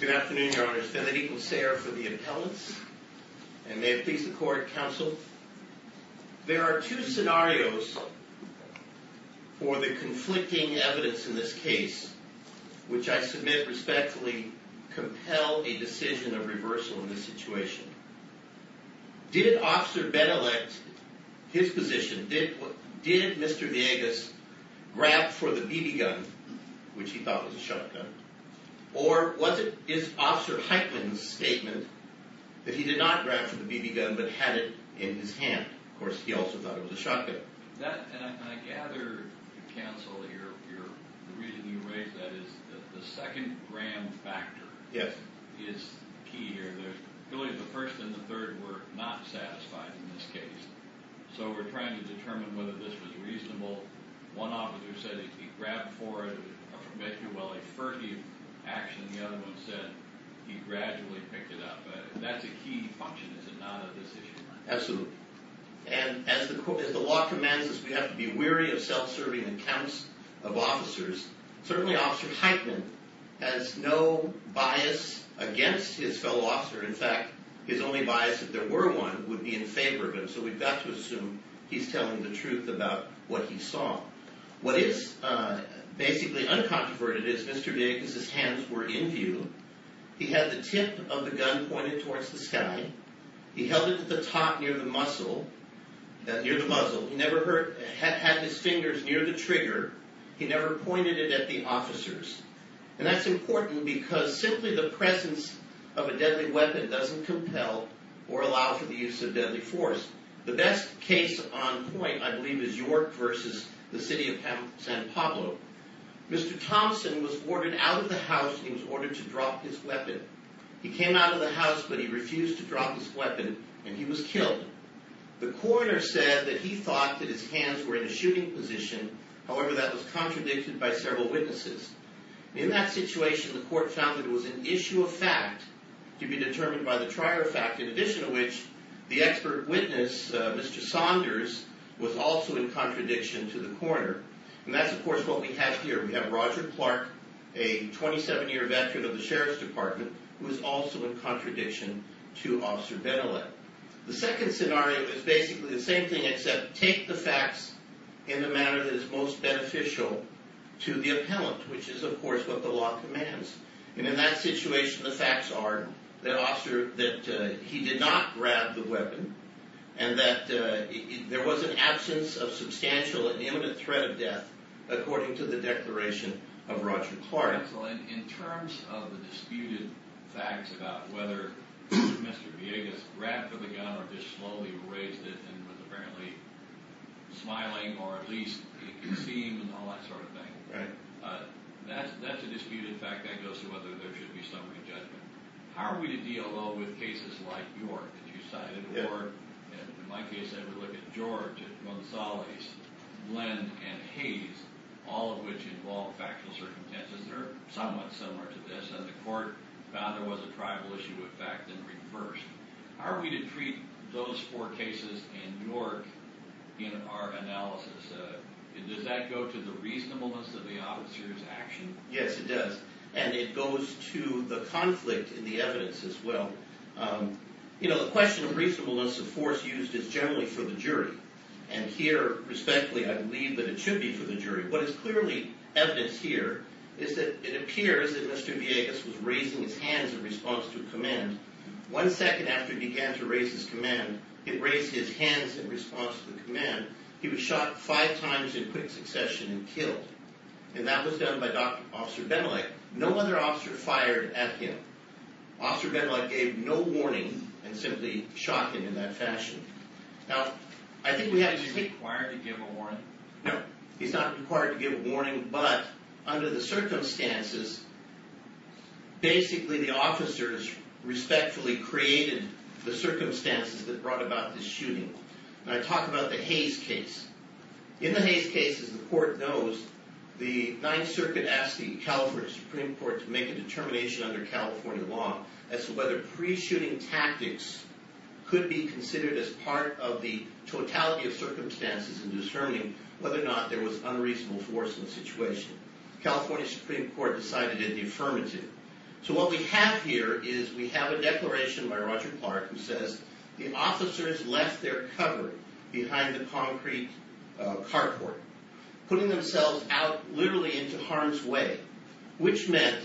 Good afternoon, Your Honors. Bennett Eagle Sayre for the Appellants. And may it please the Court, Counsel. There are two scenarios for the conflicting evidence in this case, which I submit respectfully compel a decision of reversal in this situation. Did Officer Benilect, his position, did Mr. Villegas grab for the BB gun, which he thought was a shotgun? Or was it Officer Heitman's statement that he did not grab for the BB gun, but had it in his hand? Of course, he also thought it was a shotgun. And I gather, Counsel, the reason you raise that is the second gram factor is key here. Really, the first and the third were not satisfied in this case. So we're trying to determine whether this was reasonable. One officer said he grabbed for it. I forget who. Well, I've heard the action. The other one said he gradually picked it up. That's a key function, is it not, of this issue? Absolutely. And as the law commands us, we have to be weary of self-serving accounts of officers. Certainly, Officer Heitman has no bias against his fellow officer. In fact, his only bias, if there were one, would be in favor of him. So we've got to assume he's telling the truth about what he saw. What is basically uncontroverted is Mr. Davis's hands were in view. He had the tip of the gun pointed towards the sky. He held it at the top near the muzzle. He never had his fingers near the trigger. He never pointed it at the officers. And that's important because simply the presence of a deadly weapon doesn't compel or allow for the use of deadly force. The best case on point, I believe, is York versus the city of San Pablo. Mr. Thompson was ordered out of the house. He was ordered to drop his weapon. He came out of the house, but he refused to drop his weapon, and he was killed. The coroner said that he thought that his hands were in a shooting position. However, that was contradicted by several witnesses. In that situation, the court found that it was an issue of fact to be determined by the trier of fact, in addition to which the expert witness, Mr. Saunders, was also in contradiction to the coroner. And that's, of course, what we have here. We have Roger Clark, a 27-year veteran of the Sheriff's Department, who is also in contradiction to Officer Benallet. The second scenario is basically the same thing except take the facts in the manner that is most beneficial to the appellant, which is, of course, what the law commands. And in that situation, the facts are that he did not grab the weapon and that there was an absence of substantial and imminent threat of death according to the declaration of Roger Clark. Excellent. In terms of the disputed facts about whether Mr. Villegas grabbed the gun or just slowly raised it and was apparently smiling or at least conceived and all that sort of thing. Right. That's a disputed fact. That goes to whether there should be summary judgment. How are we to deal, though, with cases like York that you cited? Yeah. Or, in my case, I would look at George, at Gonzales, Lind, and Hayes, all of which involve factual circumstances that are somewhat similar to this. And the court found there was a tribal issue of fact and reversed. How are we to treat those four cases in York in our analysis? Does that go to the reasonableness of the officer's action? Yes, it does. And it goes to the conflict in the evidence as well. You know, the question of reasonableness of force used is generally for the jury. And here, respectfully, I believe that it should be for the jury. What is clearly evidence here is that it appears that Mr. Villegas was raising his hands in response to a command. One second after he began to raise his hands in response to the command, he was shot five times in quick succession and killed. And that was done by Officer Benelak. No other officer fired at him. Officer Benelak gave no warning and simply shot him in that fashion. Now, I think we have to take... Is he required to give a warning? No. He's not required to give a warning, but under the circumstances, basically the officers respectfully created the circumstances that brought about this shooting. And I talk about the Hayes case. In the Hayes case, as the Court knows, the Ninth Circuit asked the California Supreme Court to make a determination under California law as to whether pre-shooting tactics could be considered as part of the totality of circumstances in determining whether or not there was unreasonable force in the situation. California Supreme Court decided in the affirmative. So what we have here is we have a declaration by Roger Clark who says, the officers left their cover behind the concrete carport, putting themselves out literally into harm's way, which meant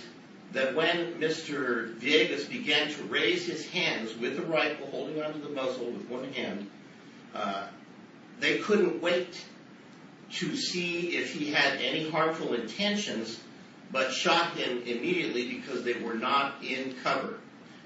that when Mr. Villegas began to raise his hands with the rifle, holding onto the muzzle with one hand, they couldn't wait to see if he had any harmful intentions, but shot him immediately because they were not in cover.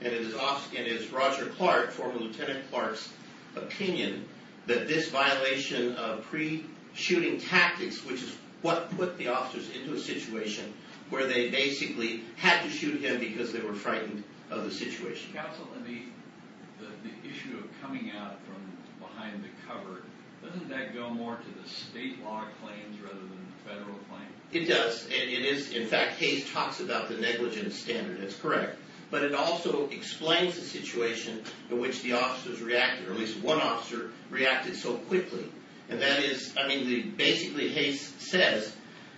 And it is Roger Clark, former Lieutenant Clark's opinion, that this violation of pre-shooting tactics, which is what put the officers into a situation where they basically had to shoot him because they were frightened of the situation. Counsel, the issue of coming out from behind the cupboard, doesn't that go more to the state law claims rather than the federal claims? It does. In fact, Hayes talks about the negligence standard. That's correct. But it also explains the situation in which the officers reacted, or at least one officer reacted so quickly. And that is, I mean, basically, Hayes says,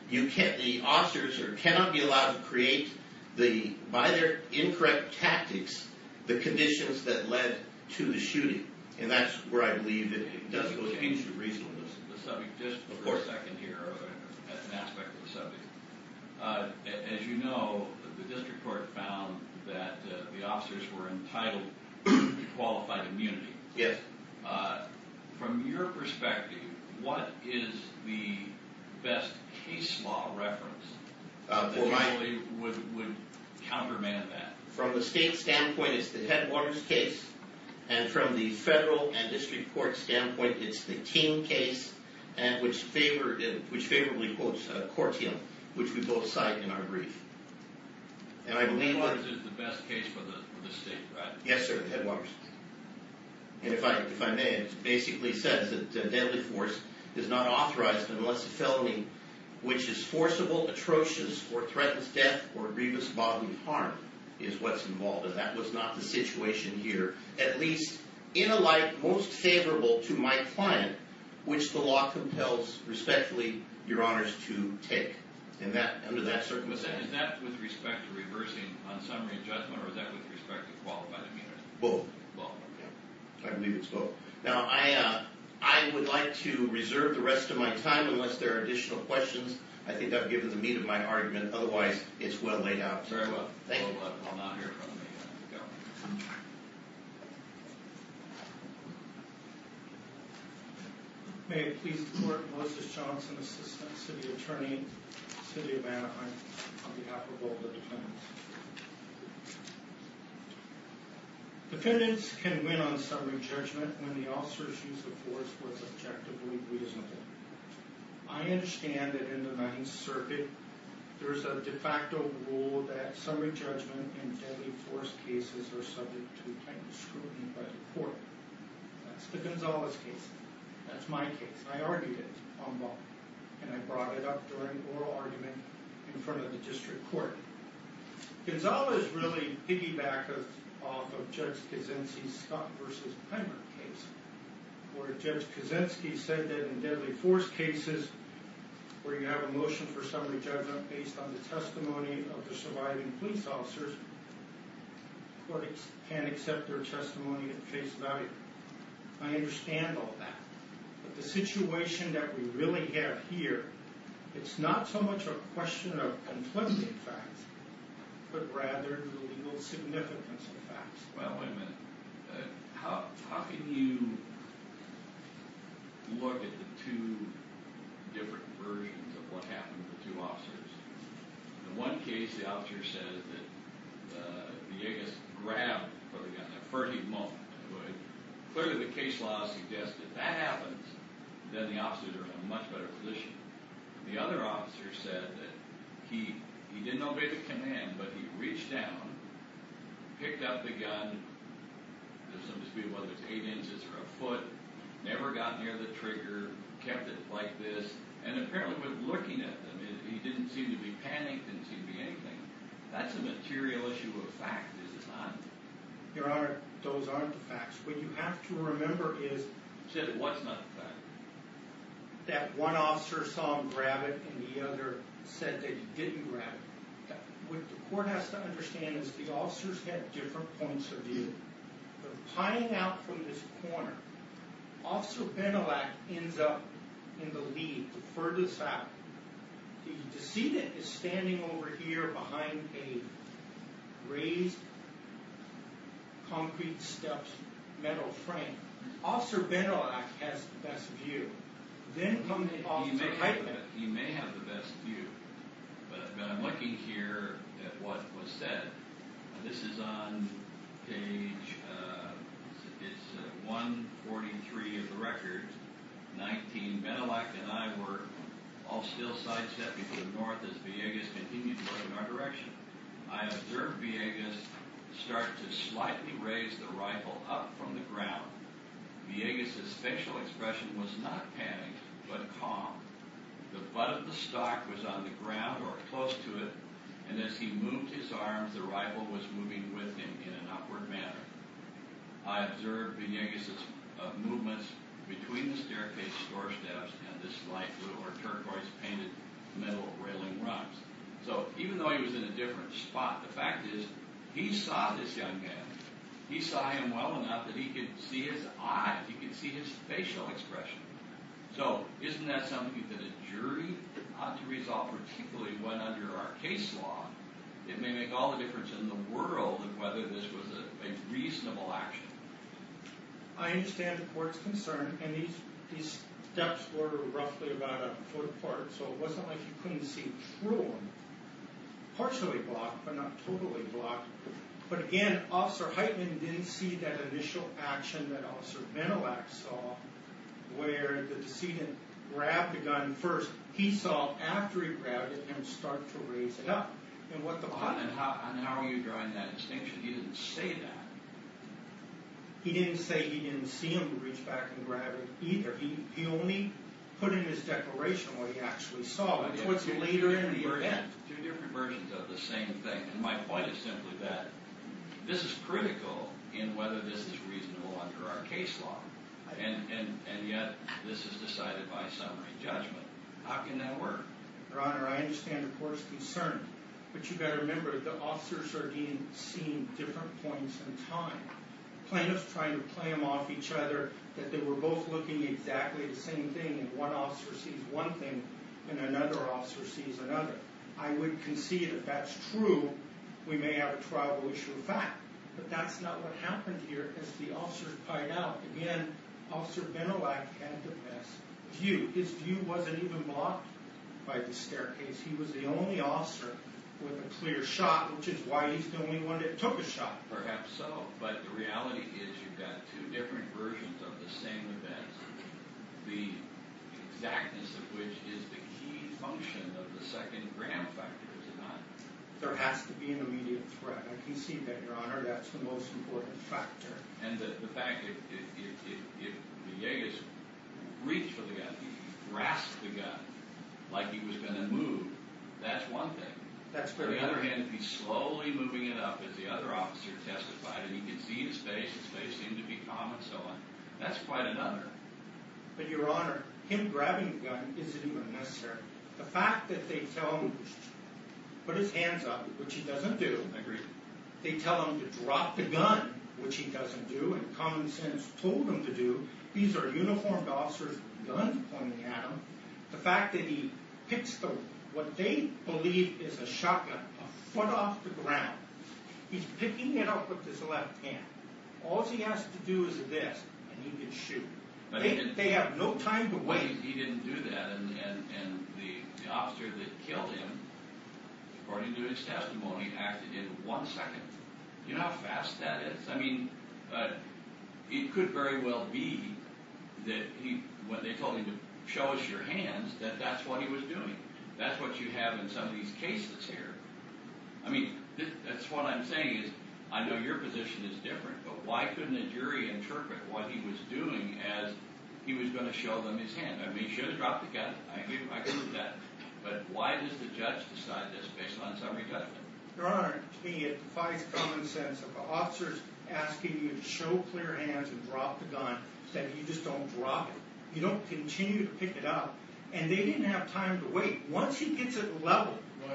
the officers cannot be allowed to create, by their incorrect tactics, the conditions that led to the shooting. And that's where I believe that it does go to the issue of reasonableness. The subject, just for a second here, as an aspect of the subject. As you know, the district court found that the officers were entitled to qualified immunity. Yes. From your perspective, what is the best case law reference that would countermand that? From the state standpoint, it's the Headwaters case. And from the federal and district court standpoint, it's the Ting case, which favorably quotes Courtiel, which we both cite in our brief. And I believe what? This is the best case for the state, right? Yes, sir, the Headwaters. And if I may, it basically says that deadly force is not authorized unless the felony, which is forcible, atrocious, or threatens death or grievous bodily harm, is what's involved. And that was not the situation here. At least in a light most favorable to my client, which the law compels, respectfully, your honors to take under that circumstance. Is that with respect to reversing on summary judgment, or is that with respect to qualified immunity? Both. Both. I believe it's both. Now, I would like to reserve the rest of my time unless there are additional questions. I think I've given the meat of my argument. Otherwise, it's well laid out. Very well. Thank you. I'll not hear from you. Go. May it please the Court, Melissa Johnson, Assistant City Attorney, City of Anaheim, on behalf of all the defendants. Defendants can win on summary judgment when the officers use the force for what's objectively reasonable. I understand that in the Ninth Circuit, there's a de facto rule that summary judgment in deadly force cases are subject to plaintiff's scrutiny by the court. That's the Gonzales case. That's my case. I argued it on bond. And I brought it up during oral argument in front of the district court. Gonzales really piggybacked off of Judge Kaczynski's Scott v. Penner case, where Judge Kaczynski said that in deadly force cases, where you have a motion for summary judgment based on the testimony of the surviving police officers, the court can't accept their testimony at face value. I understand all that. But the situation that we really have here, it's not so much a question of conflicting facts, but rather the legal significance of facts. Well, wait a minute. How can you look at the two different versions of what happened with the two officers? In one case, the officer says that Villegas grabbed for the gun, a Ferdinand moment. Clearly, the case law suggests that if that happens, then the officers are in a much better position. The other officer said that he didn't obey the command, but he reached down, picked up the gun, assumed to be whether it was eight inches or a foot, never got near the trigger, kept it like this, and apparently was looking at them. He didn't seem to be panicked, didn't seem to be anything. That's a material issue of fact. This is not. Your Honor, those aren't the facts. What you have to remember is that one officer saw him grab it, and the other said that he didn't grab it. What the court has to understand is the officers had different points of view. Pying out from this corner, Officer Benelak ends up in the lead, furthest out. The decedent is standing over here behind a raised concrete stepped metal frame. Officer Benelak has the best view. He may have the best view, but I'm looking here at what was said. This is on page 143 of the record, 19. Benelak and I were all still side-stepping to the north as Villegas continued toward our direction. I observed Villegas start to slightly raise the rifle up from the ground. Villegas' facial expression was not panicked, but calm. The butt of the stock was on the ground or close to it, and as he moved his arms, the rifle was moving with him in an awkward manner. I observed Villegas' movements between the staircase doorsteps and this light blue or turquoise painted metal railing rungs. So even though he was in a different spot, the fact is he saw this young man. He saw him well enough that he could see his eyes, he could see his facial expression. So isn't that something that a jury ought to resolve, particularly when under our case law? It may make all the difference in the world whether this was a reasonable action. I understand the court's concern, and these steps were roughly about a foot apart, so it wasn't like you couldn't see through them. Partially blocked, but not totally blocked. But again, Officer Heitman didn't see that initial action that Officer Menilek saw, where the decedent grabbed the gun first. He saw, after he grabbed it, him start to raise it up. And how are you drawing that distinction? He didn't say that. He didn't say he didn't see him reach back and grab it either. He only put in his declaration what he actually saw, which was later in the event. Two different versions of the same thing. And my point is simply that this is critical in whether this is reasonable under our case law. And yet, this is decided by summary judgment. How can that work? Your Honor, I understand the court's concern. But you've got to remember that the officers are being seen different points in time. Plaintiffs trying to play them off each other, that they were both looking at exactly the same thing. And one officer sees one thing, and another officer sees another. I would concede, if that's true, we may have a trial issue of fact. But that's not what happened here. As the officers pointed out, again, Officer Menilek had the best view. His view wasn't even blocked by the staircase. He was the only officer with a clear shot, which is why he's the only one that took a shot. Perhaps so. But the reality is you've got two different versions of the same event, the exactness of which is the key function of the second gram factor, is it not? There has to be an immediate threat. I concede that, Your Honor. That's the most important factor. And the fact that if Villegas reached for the gun, he grasped the gun like he was going to move. That's one thing. On the other hand, if he's slowly moving it up, as the other officer testified, and he could see the space, the space seemed to be calm and so on. That's quite another. But, Your Honor, him grabbing the gun isn't even necessary. The fact that they tell him to put his hands up, which he doesn't do. I agree. They tell him to drop the gun, which he doesn't do, and common sense told him to do. These are uniformed officers with guns pointing at them. The fact that he picks what they believe is a shotgun a foot off the ground. He's picking it up with his left hand. All he has to do is this, and he can shoot. They have no time to wait. He didn't do that, and the officer that killed him, according to his testimony, acted in one second. Do you know how fast that is? I mean, it could very well be that when they told him to show us your hands, that that's what he was doing. That's what you have in some of these cases here. I mean, that's what I'm saying is I know your position is different, but why couldn't a jury interpret what he was doing as he was going to show them his hand? I mean, he should have dropped the gun. I agree with that. But why does the judge decide this based on summary judgment? Your Honor, to me it defies common sense. If an officer is asking you to show clear hands and drop the gun, instead you just don't drop it. You don't continue to pick it up. And they didn't have time to wait. Once he gets it level,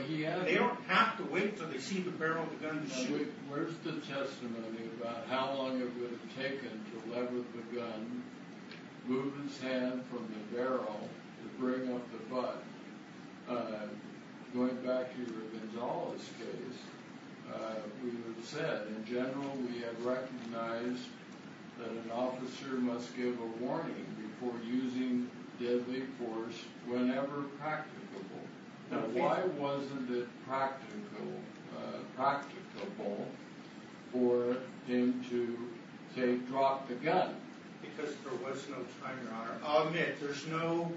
they don't have to wait until they see the barrel of the gun to shoot. Where's the testimony about how long it would have taken to lever the gun, move his hand from the barrel to bring up the butt? Going back to your Gonzales case, we have said in general we have recognized that an officer must give a warning before using deadly force whenever practicable. Now why wasn't it practicable for him to, say, drop the gun? Because there was no time, Your Honor. I'll admit there's no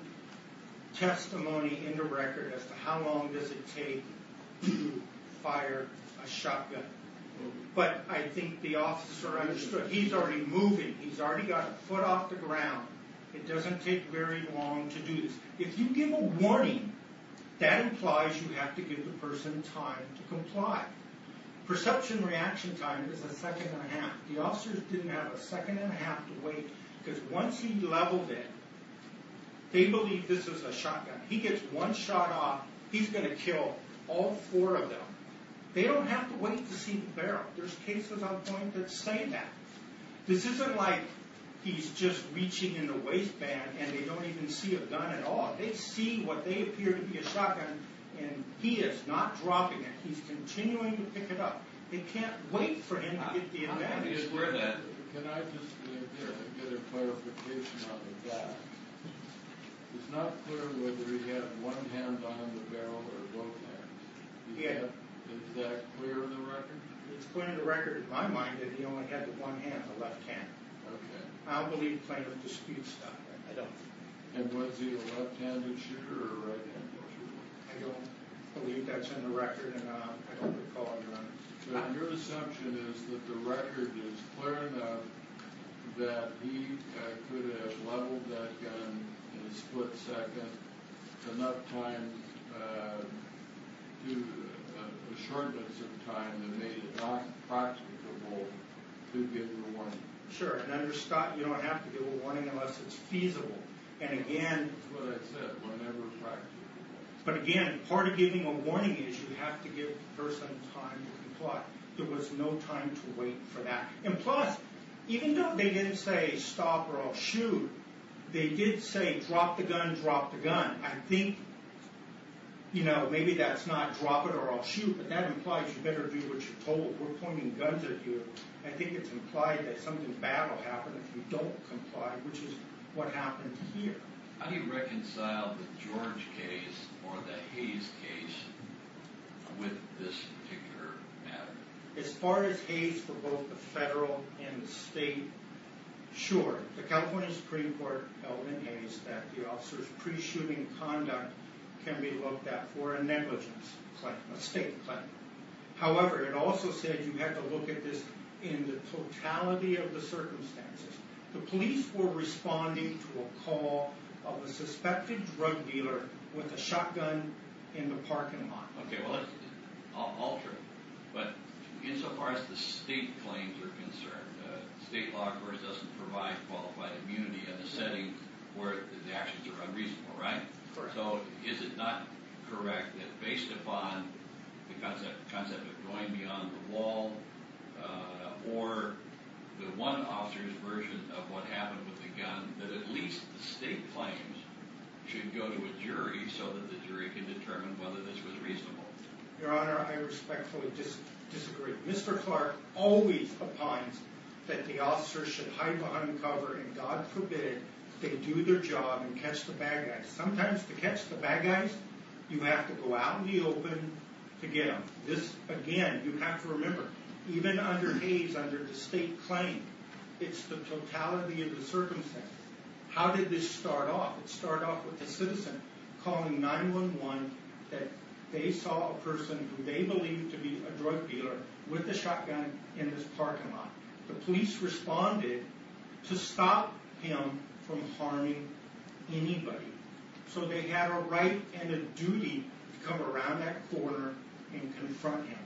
testimony in the record as to how long does it take to fire a shotgun. But I think the officer understood. He's already moving. He's already got a foot off the ground. It doesn't take very long to do this. If you give a warning, that implies you have to give the person time to comply. Perception reaction time is a second and a half. The officers didn't have a second and a half to wait because once he leveled in, they believe this is a shotgun. He gets one shot off. He's going to kill all four of them. They don't have to wait to see the barrel. There's cases I'm going to say that. This isn't like he's just reaching in the waistband and they don't even see a gun at all. They see what they appear to be a shotgun, and he is not dropping it. He's continuing to pick it up. They can't wait for him to get the advantage. Can I just get a clarification on that? It's not clear whether he had one hand on the barrel or both hands. Is that clear in the record? It's clear in the record in my mind that he only had one hand, the left hand. I don't believe plaintiff disputes that. I don't. And was he a left-handed shooter or a right-handed shooter? I don't believe that's in the record, and I don't recall, Your Honor. Your assumption is that the record is clear enough that he could have leveled that gun in a split second, enough time, due to a shortness of time, and made it not practicable to give him a warning. Sure, and you don't have to give a warning unless it's feasible. That's what I said, whenever practicable. But again, part of giving a warning is you have to give the person time to comply. There was no time to wait for that. And plus, even though they didn't say stop or I'll shoot, they did say drop the gun, drop the gun. I think, you know, maybe that's not drop it or I'll shoot, but that implies you better do what you're told. We're pointing guns at you. I think it's implied that something bad will happen if you don't comply, which is what happened here. How do you reconcile the George case or the Hayes case with this particular matter? As far as Hayes for both the federal and the state, sure, the California Supreme Court held in Hayes that the officer's pre-shooting conduct can be looked at for a negligence claim, a state claim. However, it also said you have to look at this in the totality of the circumstances. The police were responding to a call of a suspected drug dealer with a shotgun in the parking lot. Okay, well, I'll alter it. But insofar as the state claims are concerned, state law, of course, doesn't provide qualified immunity in a setting where the actions are unreasonable, right? Of course. So is it not correct that based upon the concept of going beyond the wall or the one officer's version of what happened with the gun that at least the state claims should go to a jury so that the jury can determine whether this was reasonable? Your Honor, I respectfully disagree. Mr. Clark always opines that the officers should hide behind cover, and God forbid they do their job and catch the bad guys. Sometimes to catch the bad guys, you have to go out in the open to get them. This, again, you have to remember. Even under Hayes, under the state claim, it's the totality of the circumstances. How did this start off? It started off with the citizen calling 911 that they saw a person who they believed to be a drug dealer with a shotgun in this parking lot. The police responded to stop him from harming anybody. So they had a right and a duty to come around that corner and confront him.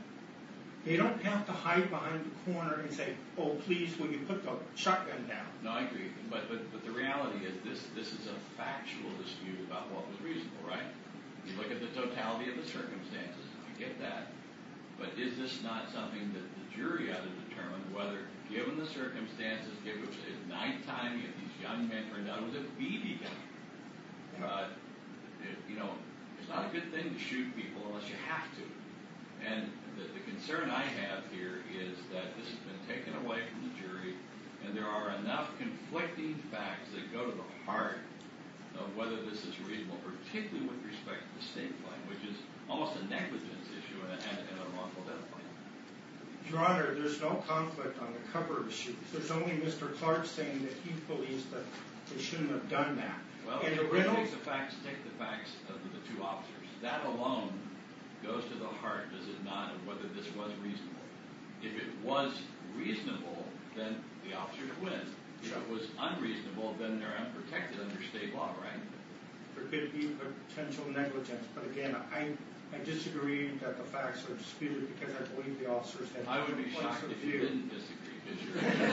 They don't have to hide behind the corner and say, oh, please, will you put the shotgun down? No, I agree. But the reality is this is a factual dispute about what was reasonable, right? You look at the totality of the circumstances, you get that. But is this not something that the jury ought to determine whether, given the circumstances, given it's nighttime, you have these young men turned out with a BB gun. You know, it's not a good thing to shoot people unless you have to. And the concern I have here is that this has been taken away from the jury, and there are enough conflicting facts that go to the heart of whether this is reasonable, particularly with respect to the state plan, which is almost a negligence issue and an unlawful death plan. Your Honor, there's no conflict on the cover of the sheet. There's only Mr. Clark saying that he believes that they shouldn't have done that. Well, if you're going to take the facts, take the facts of the two officers. That alone goes to the heart, does it not, of whether this was reasonable. If it was reasonable, then the officer could win. If it was unreasonable, then they're unprotected under state law, right? There could be potential negligence. But again, I disagree that the facts are disputed because I believe the officers had different points of view. I would be shocked if you didn't disagree, did you?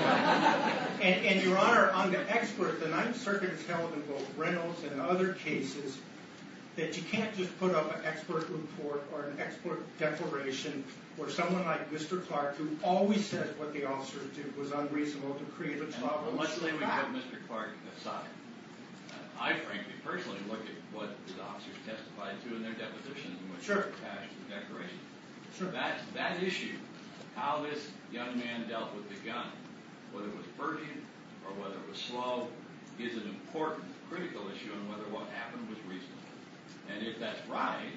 And, Your Honor, on the expert, the Ninth Circuit has held in both Reynolds and other cases that you can't just put up an expert report or an expert declaration where someone like Mr. Clark, who always said what the officers did was unreasonable, can create a problem. Well, let's say we put Mr. Clark aside. I, frankly, personally, look at what the officers testified to in their depositions and what's attached to the declaration. That issue, how this young man dealt with the gun, whether it was burgeoning or whether it was slow, is an important, critical issue in whether what happened was reasonable. And if that's right,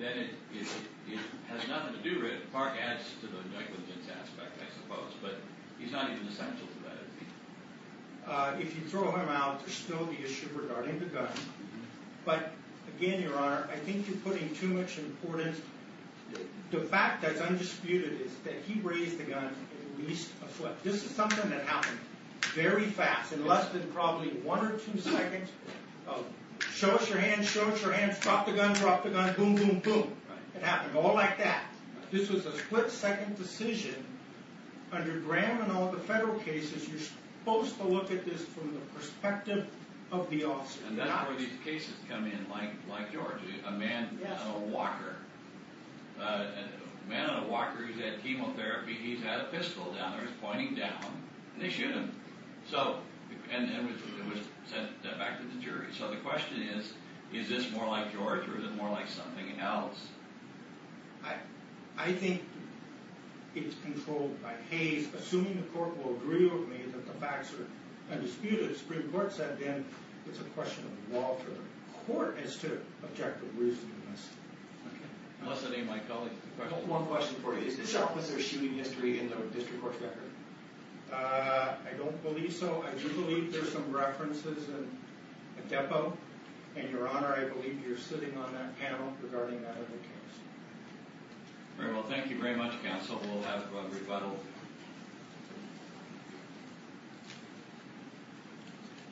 then it has nothing to do with it. Clark adds to the negligence aspect, I suppose. But he's not even essential to that. If you throw him out, there's still the issue regarding the gun. But, again, Your Honor, I think you're putting too much importance. The fact that's undisputed is that he raised the gun at least a foot. This is something that happened very fast, in less than probably one or two seconds. Show us your hands, show us your hands, drop the gun, drop the gun, boom, boom, boom. It happened all like that. This was a split-second decision. Under Graham and all the federal cases, you're supposed to look at this from the perspective of the officer. And that's where these cases come in, like George, a man on a walker. A man on a walker who's had chemotherapy, he's had a pistol down there, he's pointing down, and they shoot him. And it was sent back to the jury. So the question is, is this more like George or is it more like something else? I think it's controlled by Hays. Assuming the court will agree with me that the facts are undisputed, the Supreme Court said then, it's a question of law for the court as to objective reason in this. One question for you, is this officer shooting history in the district court record? I don't believe so. I do believe there's some references in the depot. And, Your Honor, I believe you're sitting on that panel regarding that other case. Very well, thank you very much, counsel. We'll have a rebuttal.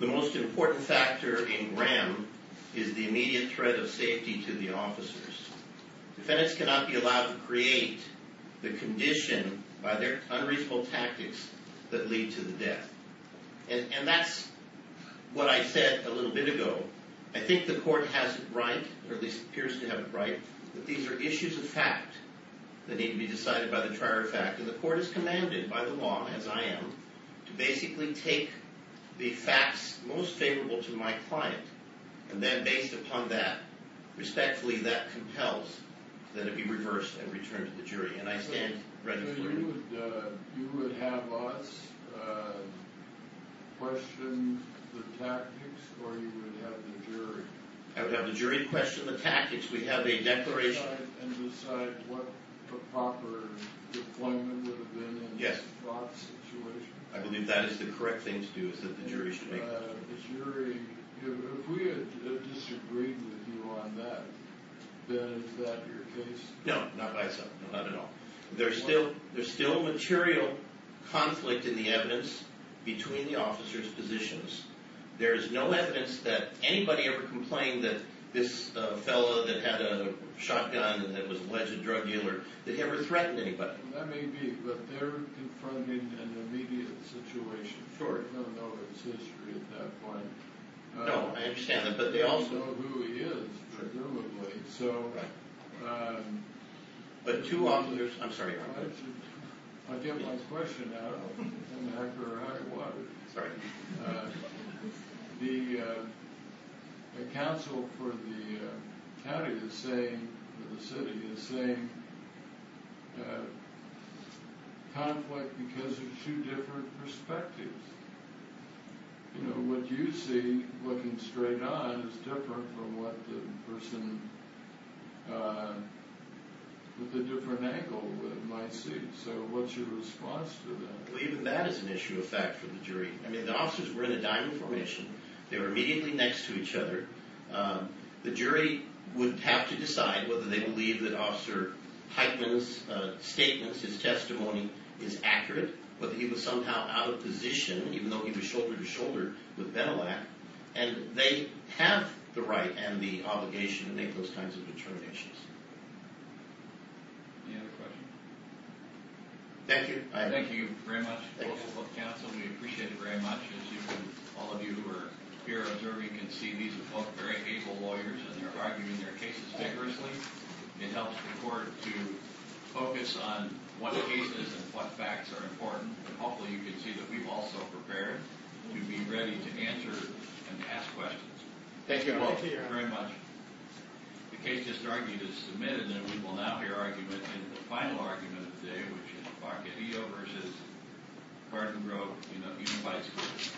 The most important factor in Graham is the immediate threat of safety to the officers. Defendants cannot be allowed to create the condition by their unreasonable tactics that lead to the death. And that's what I said a little bit ago. I think the court has it right, or at least appears to have it right, that these are issues of fact that need to be decided by the trier of fact. And the court is commanded by the law, as I am, to basically take the facts most favorable to my client. And then, based upon that, respectfully, that compels that it be reversed and returned to the jury. And I stand ready for it. You would have us question the tactics, or you would have the jury? I would have the jury question the tactics. We have a declaration. And decide what the proper deployment would have been in this fraud situation? Yes, I believe that is the correct thing to do, is that the jury should make the decision. If we had disagreed with you on that, then is that your case? No, not by itself. Not at all. There's still material conflict in the evidence between the officers' positions. There is no evidence that anybody ever complained that this fellow that had a shotgun that was alleged drug dealer, that he ever threatened anybody. That may be, but they're confronting an immediate situation. Sure, you don't know his history at that point. No, I understand that, but they also... You don't know who he is, presumably. But two officers... I'm sorry, go ahead. I get one question now, and I don't know if it's in Niagara or Iowa. Sorry. The council for the county is saying, or the city is saying, conflict because of two different perspectives. You know, what you see looking straight on is different from what the person with the different angle might see. So what's your response to that? Well, even that is an issue of fact for the jury. I mean, the officers were in a diamond formation. They were immediately next to each other. The jury would have to decide whether they believe that Officer Heitman's statements, his testimony, is accurate, whether he was somehow out of position, even though he was shoulder-to-shoulder with Benelak. And they have the right and the obligation to make those kinds of determinations. Any other questions? Thank you. Thank you very much, both of both councils. We appreciate it very much. As all of you who are here observing can see, these are both very able lawyers, and they're arguing their cases vigorously. It helps the court to focus on what cases and what facts are important, and hopefully you can see that we've also prepared to be ready to answer and ask questions. Thank you. You're welcome. Thank you very much. The case just argued is submitted, and we will now hear argument in the final argument of the day, which is Barcadillo v. Cardenbroek, Unified School District.